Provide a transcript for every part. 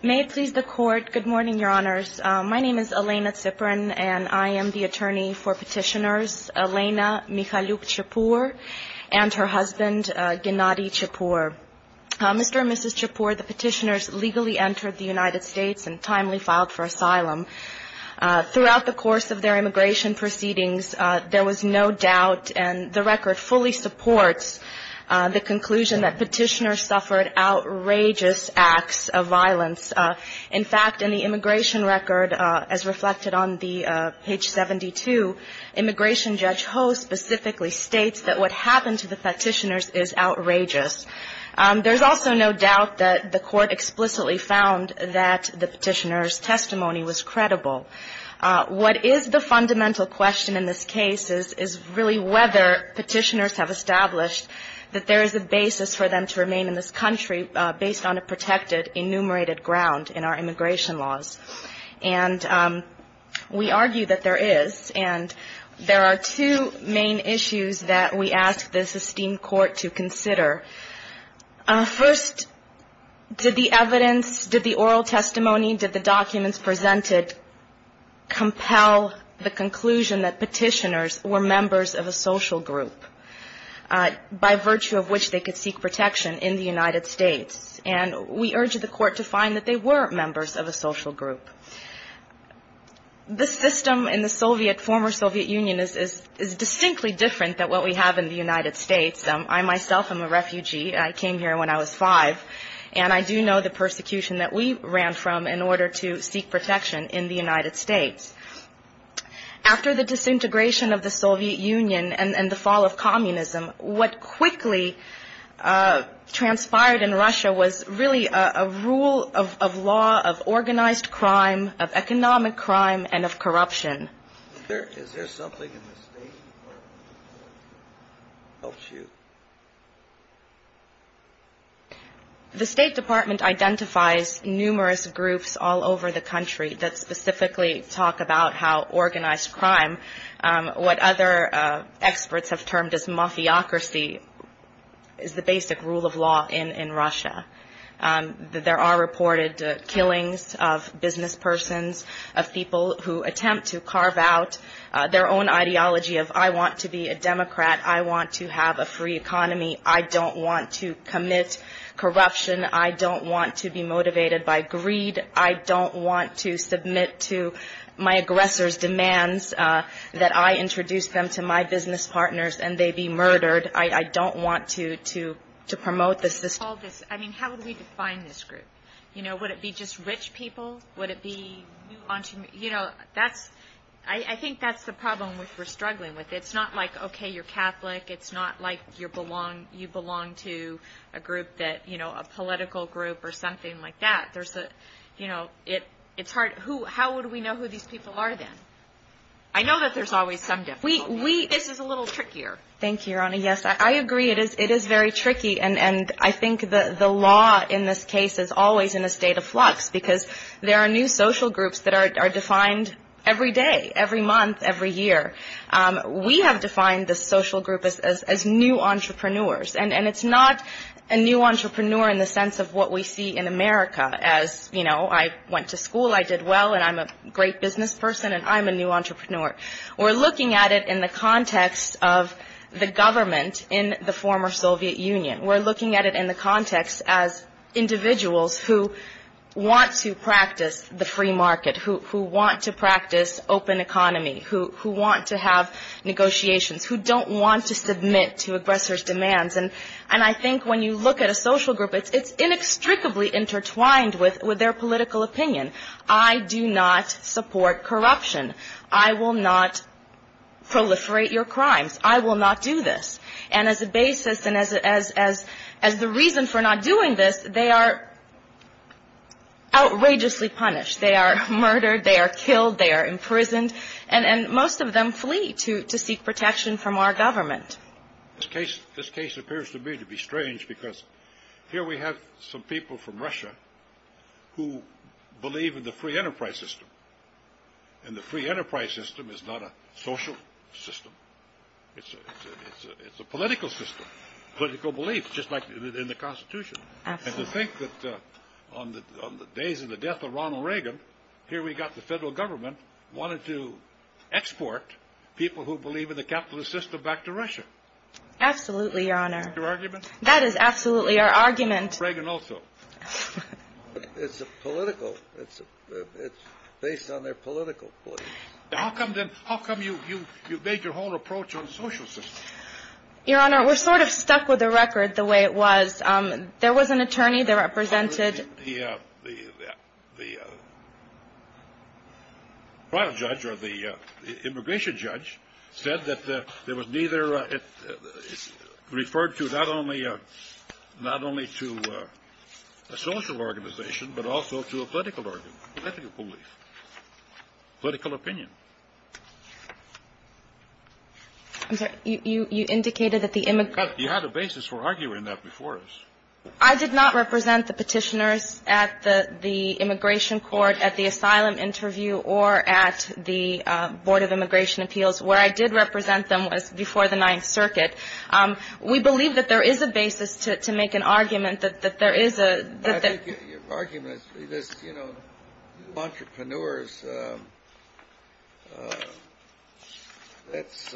May it please the Court. Good morning, Your Honors. My name is Elena Ziprin and I am the attorney for petitioners Elena Mikhailiouk-Chipur and her husband Gennady Chipur. Mr. and Mrs. Chipur, the petitioners legally entered the United States and timely filed for asylum. Throughout the course of their immigration proceedings, there was no doubt and the record fully supports the conclusion that petitioners suffered outrageous acts of violence. In fact, in the immigration record, as reflected on the page 72, immigration judge Ho specifically states that what happened to the petitioners is outrageous. There's also no doubt that the Court explicitly found that the petitioners' testimony was credible. What is the fundamental question in this case is really whether petitioners have established that there is a basis for them to remain in this country based on a protected enumerated ground in our immigration laws. And we argue that there is. And there are two main issues that we ask the esteemed Court to consider. First, did the evidence, did the oral testimony, did the documents presented compel the conclusion that petitioners were members of a social group by virtue of which they could seek protection in the United States? And we urge the Court to find that they were members of a social group. The system in the Soviet, former Soviet Union is distinctly different than what we have in the United States. I myself am a refugee. I came here when I was five. And I do know the persecution that we ran from in order to seek protection in the United States. After the disintegration of the Soviet Union and the fall of communism, what quickly transpired in Russia was really a rule of law, of organized crime, of economic The State Department identifies numerous groups all over the country that specifically talk about how organized crime, what other experts have termed as mafiocracy, is the basic rule of law in Russia. There are reported killings of businesspersons, of people who attempt to carve out their own ideology of I want to be a Democrat, I want to have a free economy, I don't want to commit corruption, I don't want to be motivated by greed, I don't want to submit to my aggressors' demands that I introduce them to my business partners and they be murdered. I don't want to promote the system. How would we define this group? Would it be just rich people? I think that's the problem we're struggling with. It's not like, okay, you're Catholic, it's not like you belong to a group that, you know, a political group or something like that. There's a, you know, it's hard. How would we know who these people are then? I know that there's always some difficulty. This is a little trickier. Thank you, Your Honor. Yes, I agree. It is very tricky and I think the law in this case is always in a state of flux because there are new social groups that are defined every day, every month, every year. We have defined this social group as new entrepreneurs and it's not a new entrepreneur in the sense of what we see in America as, you know, I went to school, I did well and I'm a great business person and I'm a new entrepreneur. We're looking at it in the context of the government in the former Soviet Union. We're looking at it in the context as individuals who want to practice the free market, who want to practice open economy, who want to have negotiations, who don't want to submit to aggressors' demands. And I think when you look at a social group, it's inextricably intertwined with their political opinion. I do not support corruption. I will not proliferate your crimes. I will not do this. And as a basis and as the reason for not doing this, they are outrageously punished. They are murdered. They are killed. They are imprisoned. And most of them flee to seek protection from our government. This case appears to me to be strange because here we have some people from Russia who believe in the free enterprise system. And the free enterprise system is not a social system. It's a political system, political belief, just like in the Constitution. And to think that on the days of the death of Ronald Reagan, here we've got the federal government wanting to export people who believe in the capitalist system back to Russia. Absolutely, Your Honor. That is absolutely our argument. Reagan also. It's political. It's based on their political belief. How come you've made your own approach on social systems? Your Honor, we're sort of stuck with the record the way it was. There was an attorney, there was a judge. The trial judge or the immigration judge said that there was neither, it referred to not only to a social organization, but also to a political belief, political opinion. I'm sorry, you indicated that the immigrants You had a basis for arguing that before us. I did not represent the petitioners at the immigration court, at the asylum interview, or at the Board of Immigration Appeals. Where I did represent them was before the Ninth Circuit. We believe that there is a basis to make an argument that there is a I think your argument is, you know, entrepreneurs, that's,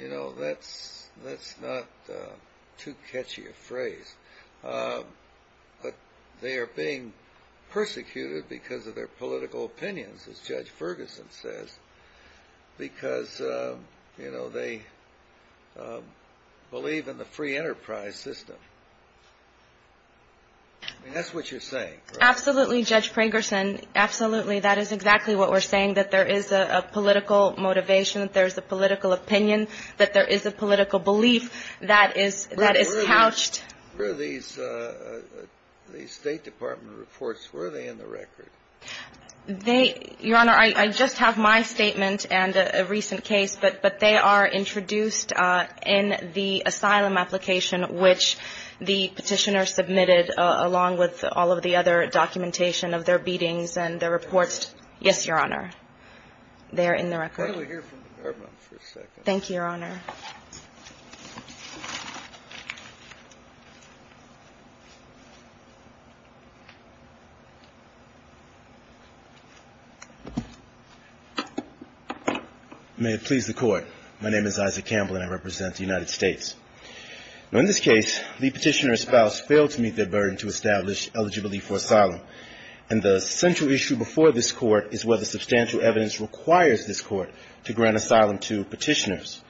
you know, that's not too catchy a phrase. But they are being persecuted because of their political opinions, as Judge Ferguson says, because, you know, they believe in the free enterprise system. I mean, that's what you're saying, right? Absolutely, Judge Ferguson. Absolutely. That is exactly what we're saying, that there is a political motivation, that there is a political opinion, that there is a political belief that is pouched Where are these State Department reports, where are they in the record? They, Your Honor, I just have my statement and a recent case, but they are introduced in the asylum application, which the petitioner submitted along with all of the other documentation of their beatings and their reports. Yes, Your Honor. They are in the record. Thank you, Your Honor. May it please the Court. My name is Isaac Campbell, and I represent the United States. Now, in this case, the petitioner's spouse failed to meet their burden to establish eligibility for asylum, and the central issue before this Court is whether substantial evidence requires this Court to grant asylum to petitioners.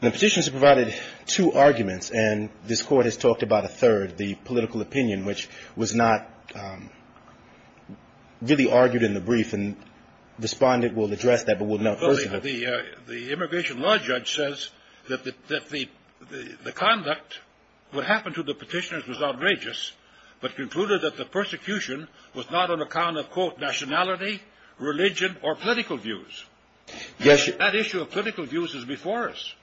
The petitioners have provided two arguments, and this Court has talked about a third, the political opinion, which was not really argued in the brief, and the respondent will address that, but we'll note first of all The immigration law judge says that the conduct, what happened to the petitioners was outrageous, but concluded that the persecution was not on account of, quote, nationality, religion, or political views. Yes. That issue of political views is before us.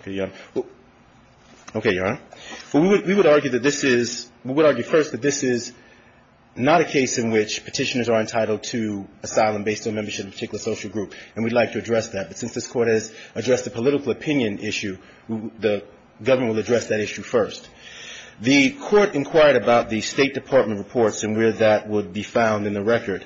Okay, Your Honor. We would argue that this is, we would argue first that this is not a case in which petitioners are entitled to asylum based on membership in a particular social group, and we'd like to address that, but since this Court has addressed the political opinion issue, the government will address that issue first. The Court inquired about the State Department reports and where that would be found in the record.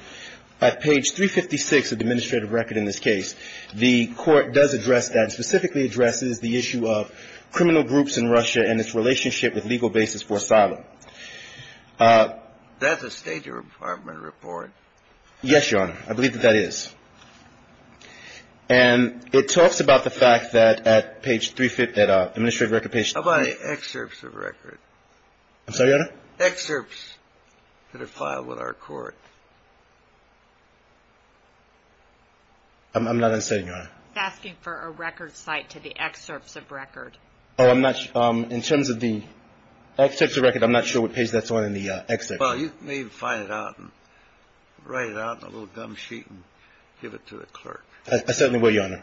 At page 356 of the administrative record in this case, the Court does address that, specifically addresses the issue of criminal groups in Russia and its relationship with legal basis for asylum. That's a State Department report. Yes, Your Honor. I believe that that is. And it talks about the fact that at page, at administrative record page How about the excerpts of record? I'm sorry, Your Honor? Excerpts that are filed with our Court. I'm not understanding, Your Honor. He's asking for a record cite to the excerpts of record. Oh, I'm not sure. In terms of the excerpts of record, I'm not sure what page that's on in the excerpts. Well, you may find it out and write it out in a little gum sheet and give it to the clerk. I certainly will, Your Honor.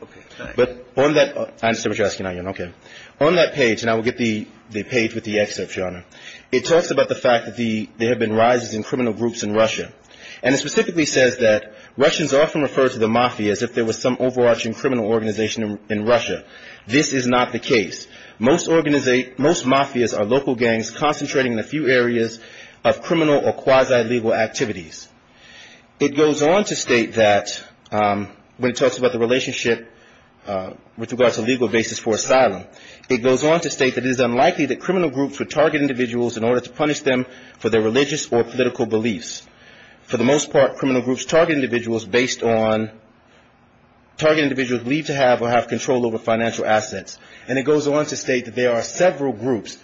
But on that, I understand what you're asking now, Your Honor. Okay. On that page, and I will get the page with the excerpts, Your Honor, it talks about the fact that there have been rises in criminal groups in Russia. And it specifically says that Russians often refer to the mafia as if there was some overarching criminal organization in Russia. This is not the case. Most mafias are local gangs concentrating in a few areas of criminal or quasi-legal activities. It goes on to state that when it talks about the relationship with regards to legal basis for asylum, it goes on to state that it is unlikely that criminal groups would target individuals in order to punish them for their religious or political beliefs. For the most part, criminal groups target individuals based on target individuals believed to have or have control over financial assets. And it goes on to state that there are several groups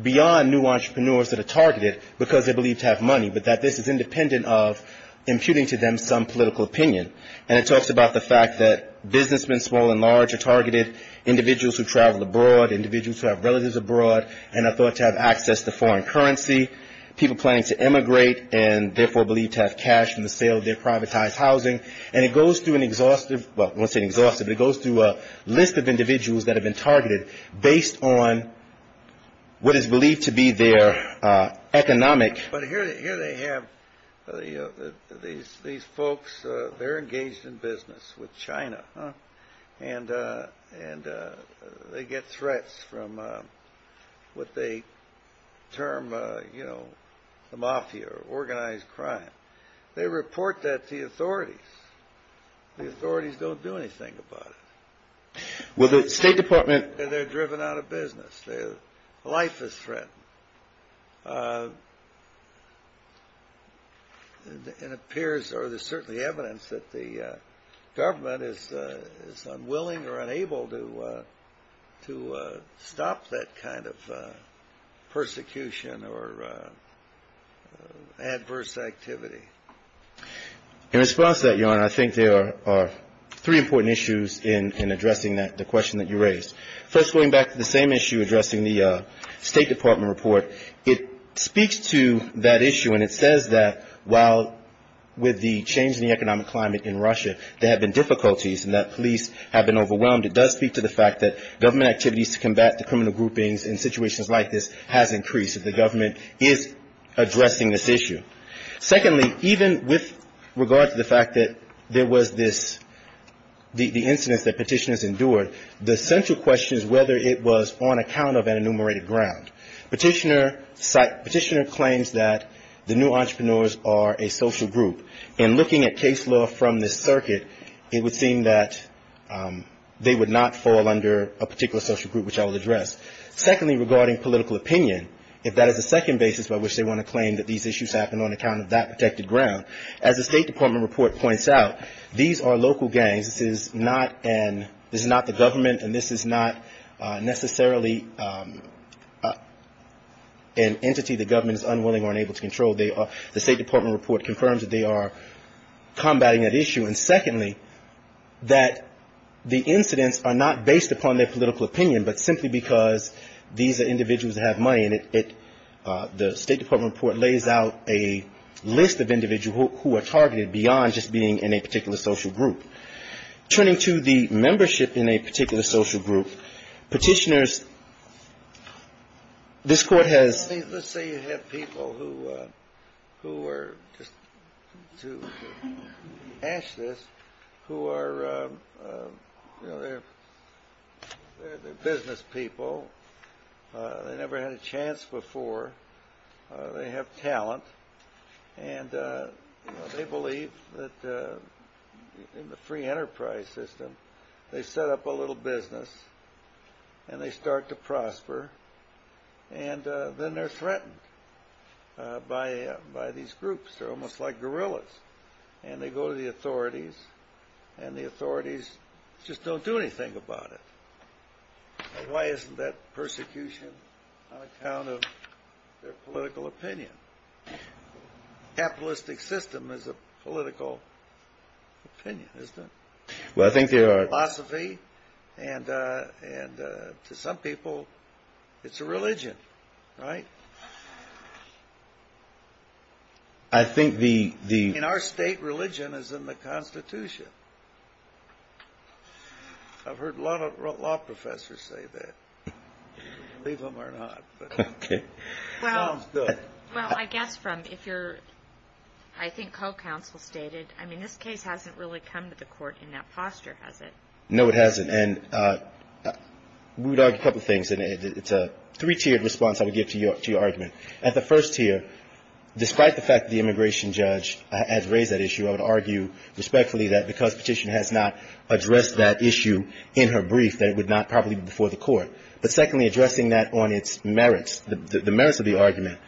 beyond new entrepreneurs that are targeted because they believe to have money, but that this is independent of imputing to them some political opinion. And it talks about the fact that businessmen, small and large, are targeted, individuals who travel abroad, individuals who have relatives abroad and are thought to have access to foreign currency, people planning to emigrate and therefore believed to have cash in the sale of their privatized housing. And it goes through an exhaustive, well, I won't say an exhaustive, but it goes through a list of individuals that have been targeted based on what is believed to be their economic. But here they have these folks. They're engaged in business with China. And they get threats from what they term, you know, the mafia, organized crime. They report that to the authorities. The authorities don't do anything about it. Well, the State Department. They're driven out of business. Life is threatened. It appears or there's certainly evidence that the government is unwilling or unable to stop that kind of persecution or adverse activity. In response to that, Your Honor, I think there are three important issues in addressing the question that you raised. First, going back to the same issue addressing the State Department report, it speaks to that issue and it says that while with the change in the economic climate in Russia, there have been difficulties and that police have been overwhelmed, it does speak to the fact that government activities to combat the criminal groupings in situations like this has increased. The government is addressing this issue. Secondly, even with regard to the fact that there was this, the incidents that petitioners endured, the central question is whether it was on account of an enumerated ground. Petitioner claims that the new entrepreneurs are a social group. In looking at case law from this circuit, it would seem that they would not fall under a particular social group, which I will address. Secondly, regarding political opinion, if that is the second basis by which they want to claim that these issues happen on account of that protected ground, as the State Department report points out, these are local gangs. This is not the government and this is not necessarily an entity the government is unwilling or unable to control. The State Department report confirms that they are combating that issue. And secondly, that the incidents are not based upon their political opinion, but simply because these are individuals that have money. And the State Department report lays out a list of individuals who are targeted beyond just being in a particular social group. Turning to the membership in a particular social group, petitioners, this Court has ‑‑ they are business people, they never had a chance before, they have talent, and they believe that in the free enterprise system, they set up a little business and they start to prosper, and then they are threatened by these groups. They are almost like gorillas, and they go to the authorities, and the authorities just don't do anything about it. Why isn't that persecution on account of their political opinion? The capitalistic system is a political opinion, isn't it? It's a philosophy, and to some people, it's a religion, right? I think the ‑‑ In our state, religion is in the Constitution. I've heard a lot of law professors say that, believe them or not. Okay. Well, I guess from if you're, I think, co‑counsel stated, I mean, this case hasn't really come to the Court in that posture, has it? No, it hasn't. And we would argue a couple of things, and it's a three-tiered response I would give to your argument. At the first tier, despite the fact that the immigration judge has raised that issue, I would argue respectfully that because Petitioner has not addressed that issue in her brief, that it would not properly be before the Court. But secondly, addressing that on its merits, the merits of the argument,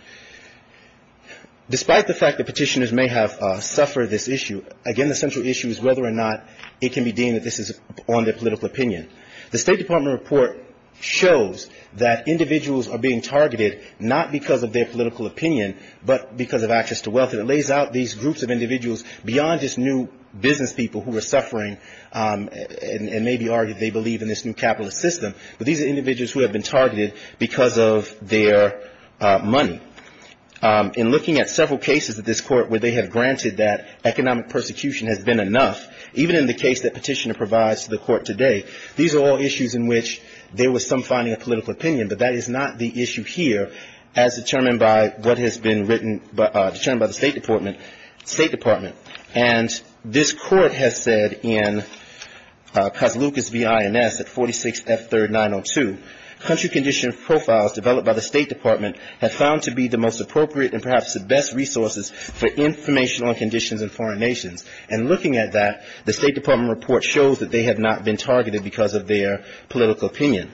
despite the fact that Petitioners may have suffered this issue, again, the central issue is whether or not it can be deemed that this is on their political opinion. The State Department report shows that individuals are being targeted not because of their political opinion, but because of access to wealth. And it lays out these groups of individuals beyond just new business people who are suffering, and may be argued they believe in this new capitalist system, but these are individuals who have been targeted because of their money. In looking at several cases at this Court where they have granted that economic persecution has been enough, even in the case that Petitioner provides to the Court today, these are all issues in which there was some finding of political opinion, but that is not the issue here as determined by what has been written, determined by the State Department. State Department. And this Court has said in Coslucas v. INS at 46F3902, country condition profiles developed by the State Department have found to be the most appropriate and perhaps the best resources for information on conditions in foreign nations. And looking at that, the State Department report shows that they have not been targeted because of their political opinion.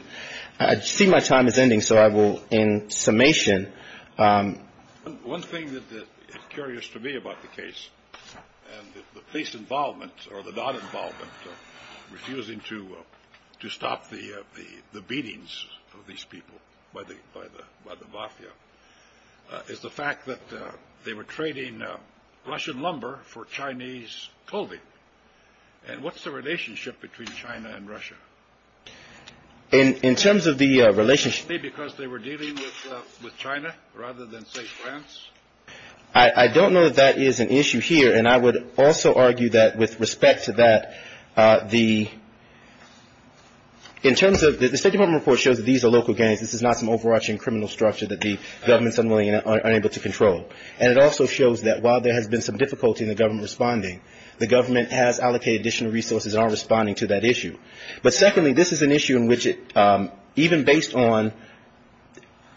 I see my time is ending, so I will, in summation. One thing that is curious to me about the case, and the police involvement or the non-involvement of refusing to stop the beatings of these people by the Mafia, is the fact that they were trading Russian lumber for Chinese clothing. And what's the relationship between China and Russia? In terms of the relationship… Maybe because they were dealing with China rather than, say, France? I don't know that that is an issue here, and I would also argue that with respect to that, the State Department report shows that these are local gangs. This is not some overarching criminal structure that the government is unwilling or unable to control. And it also shows that while there has been some difficulty in the government responding, the government has allocated additional resources and are responding to that issue. But secondly, this is an issue in which even based on,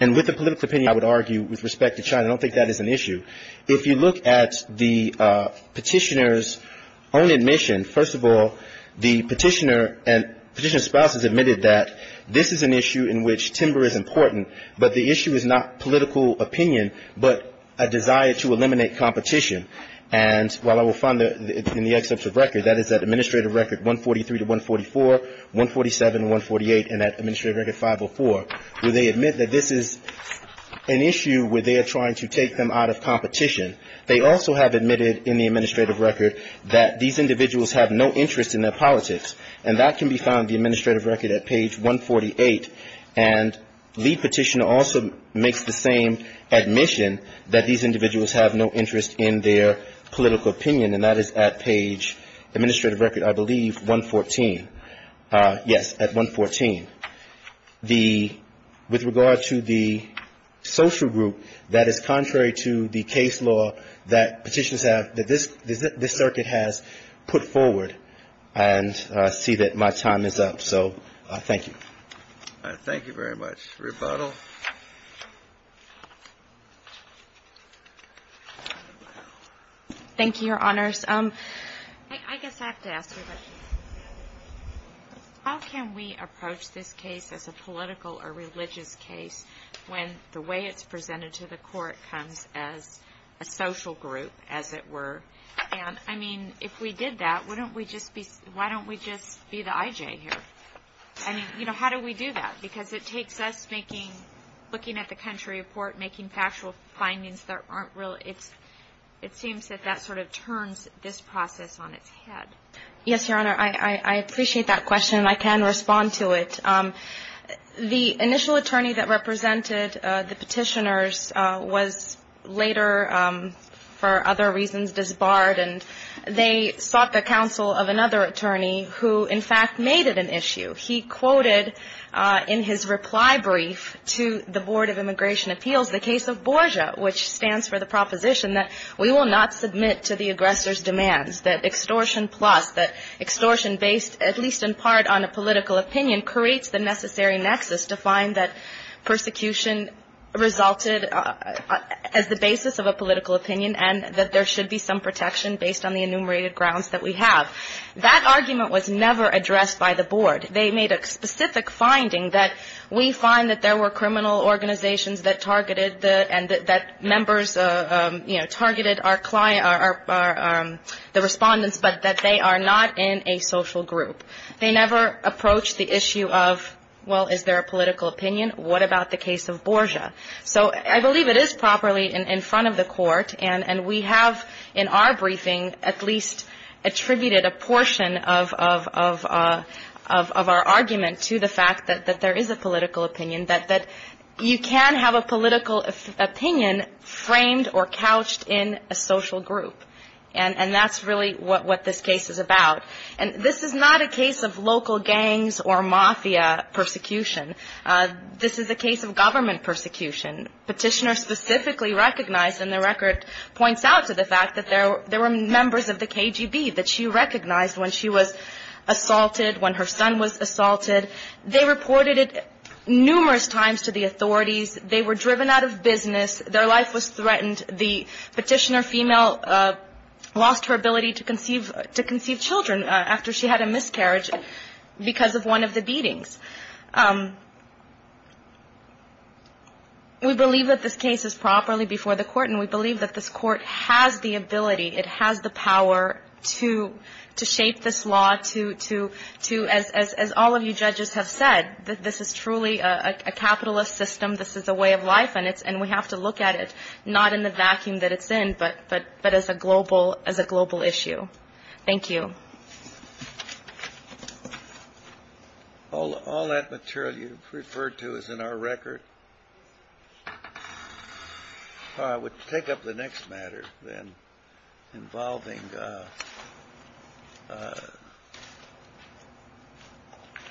and with the political opinion, I would argue, with respect to China, I don't think that is an issue. If you look at the Petitioner's own admission, first of all, the Petitioner and Petitioner's spouses admitted that this is an issue in which timber is important, but the issue is not political opinion, but a desire to eliminate competition. And while I will find that in the excerpts of record, that is that administrative record 143 to 144, 147 and 148, and that administrative record 504, where they admit that this is an issue where they are trying to take them out of competition, they also have admitted in the administrative record that these individuals have no interest in their politics. And that can be found in the administrative record at page 148. And the Petitioner also makes the same admission that these individuals have no interest in their political opinion, and that is at page administrative record, I believe, 114. Yes, at 114. With regard to the social group, that is contrary to the case law that Petitioners have, that this circuit has put forward. And I see that my time is up. So thank you. Thank you very much. Rebuttal. Thank you, Your Honors. I guess I have to ask you, how can we approach this case as a political or religious case when the way it's presented to the court comes as a social group, as it were? And, I mean, if we did that, why don't we just be the I.J. here? I mean, you know, how do we do that? Because it takes us looking at the country report, making factual findings that aren't real. It seems that that sort of turns this process on its head. Yes, Your Honor. I appreciate that question, and I can respond to it. The initial attorney that represented the Petitioners was later, for other reasons, disbarred, and they sought the counsel of another attorney who, in fact, made it an issue. He quoted in his reply brief to the Board of Immigration Appeals the case of BORJA, which stands for the proposition that we will not submit to the aggressor's demands, that extortion plus, that extortion based at least in part on a political opinion creates the necessary nexus to find that persecution resulted as the basis of a political opinion and that there should be some protection based on the enumerated grounds that we have. That argument was never addressed by the Board. They made a specific finding that we find that there were criminal organizations that targeted the and that members, you know, targeted our client, the respondents, but that they are not in a social group. They never approached the issue of, well, is there a political opinion? What about the case of BORJA? So I believe it is properly in front of the Court, and we have in our briefing at least attributed a portion of our argument to the fact that there is a political opinion, that you can have a political opinion framed or couched in a social group, and that's really what this case is about. And this is not a case of local gangs or mafia persecution. This is a case of government persecution. Petitioner specifically recognized, and the record points out to the fact that there were members of the KGB that she recognized when she was assaulted, when her son was assaulted. They reported it numerous times to the authorities. They were driven out of business. Their life was threatened. The petitioner female lost her ability to conceive children after she had a miscarriage because of one of the beatings. We believe that this case is properly before the Court, and we believe that this Court has the ability, it has the power to shape this law to, as all of you judges have said, that this is truly a capitalist system. This is a way of life, and we have to look at it, not in the vacuum that it's in, but as a global issue. Thank you. All that material you've referred to is in our record. I would take up the next matter, then, involving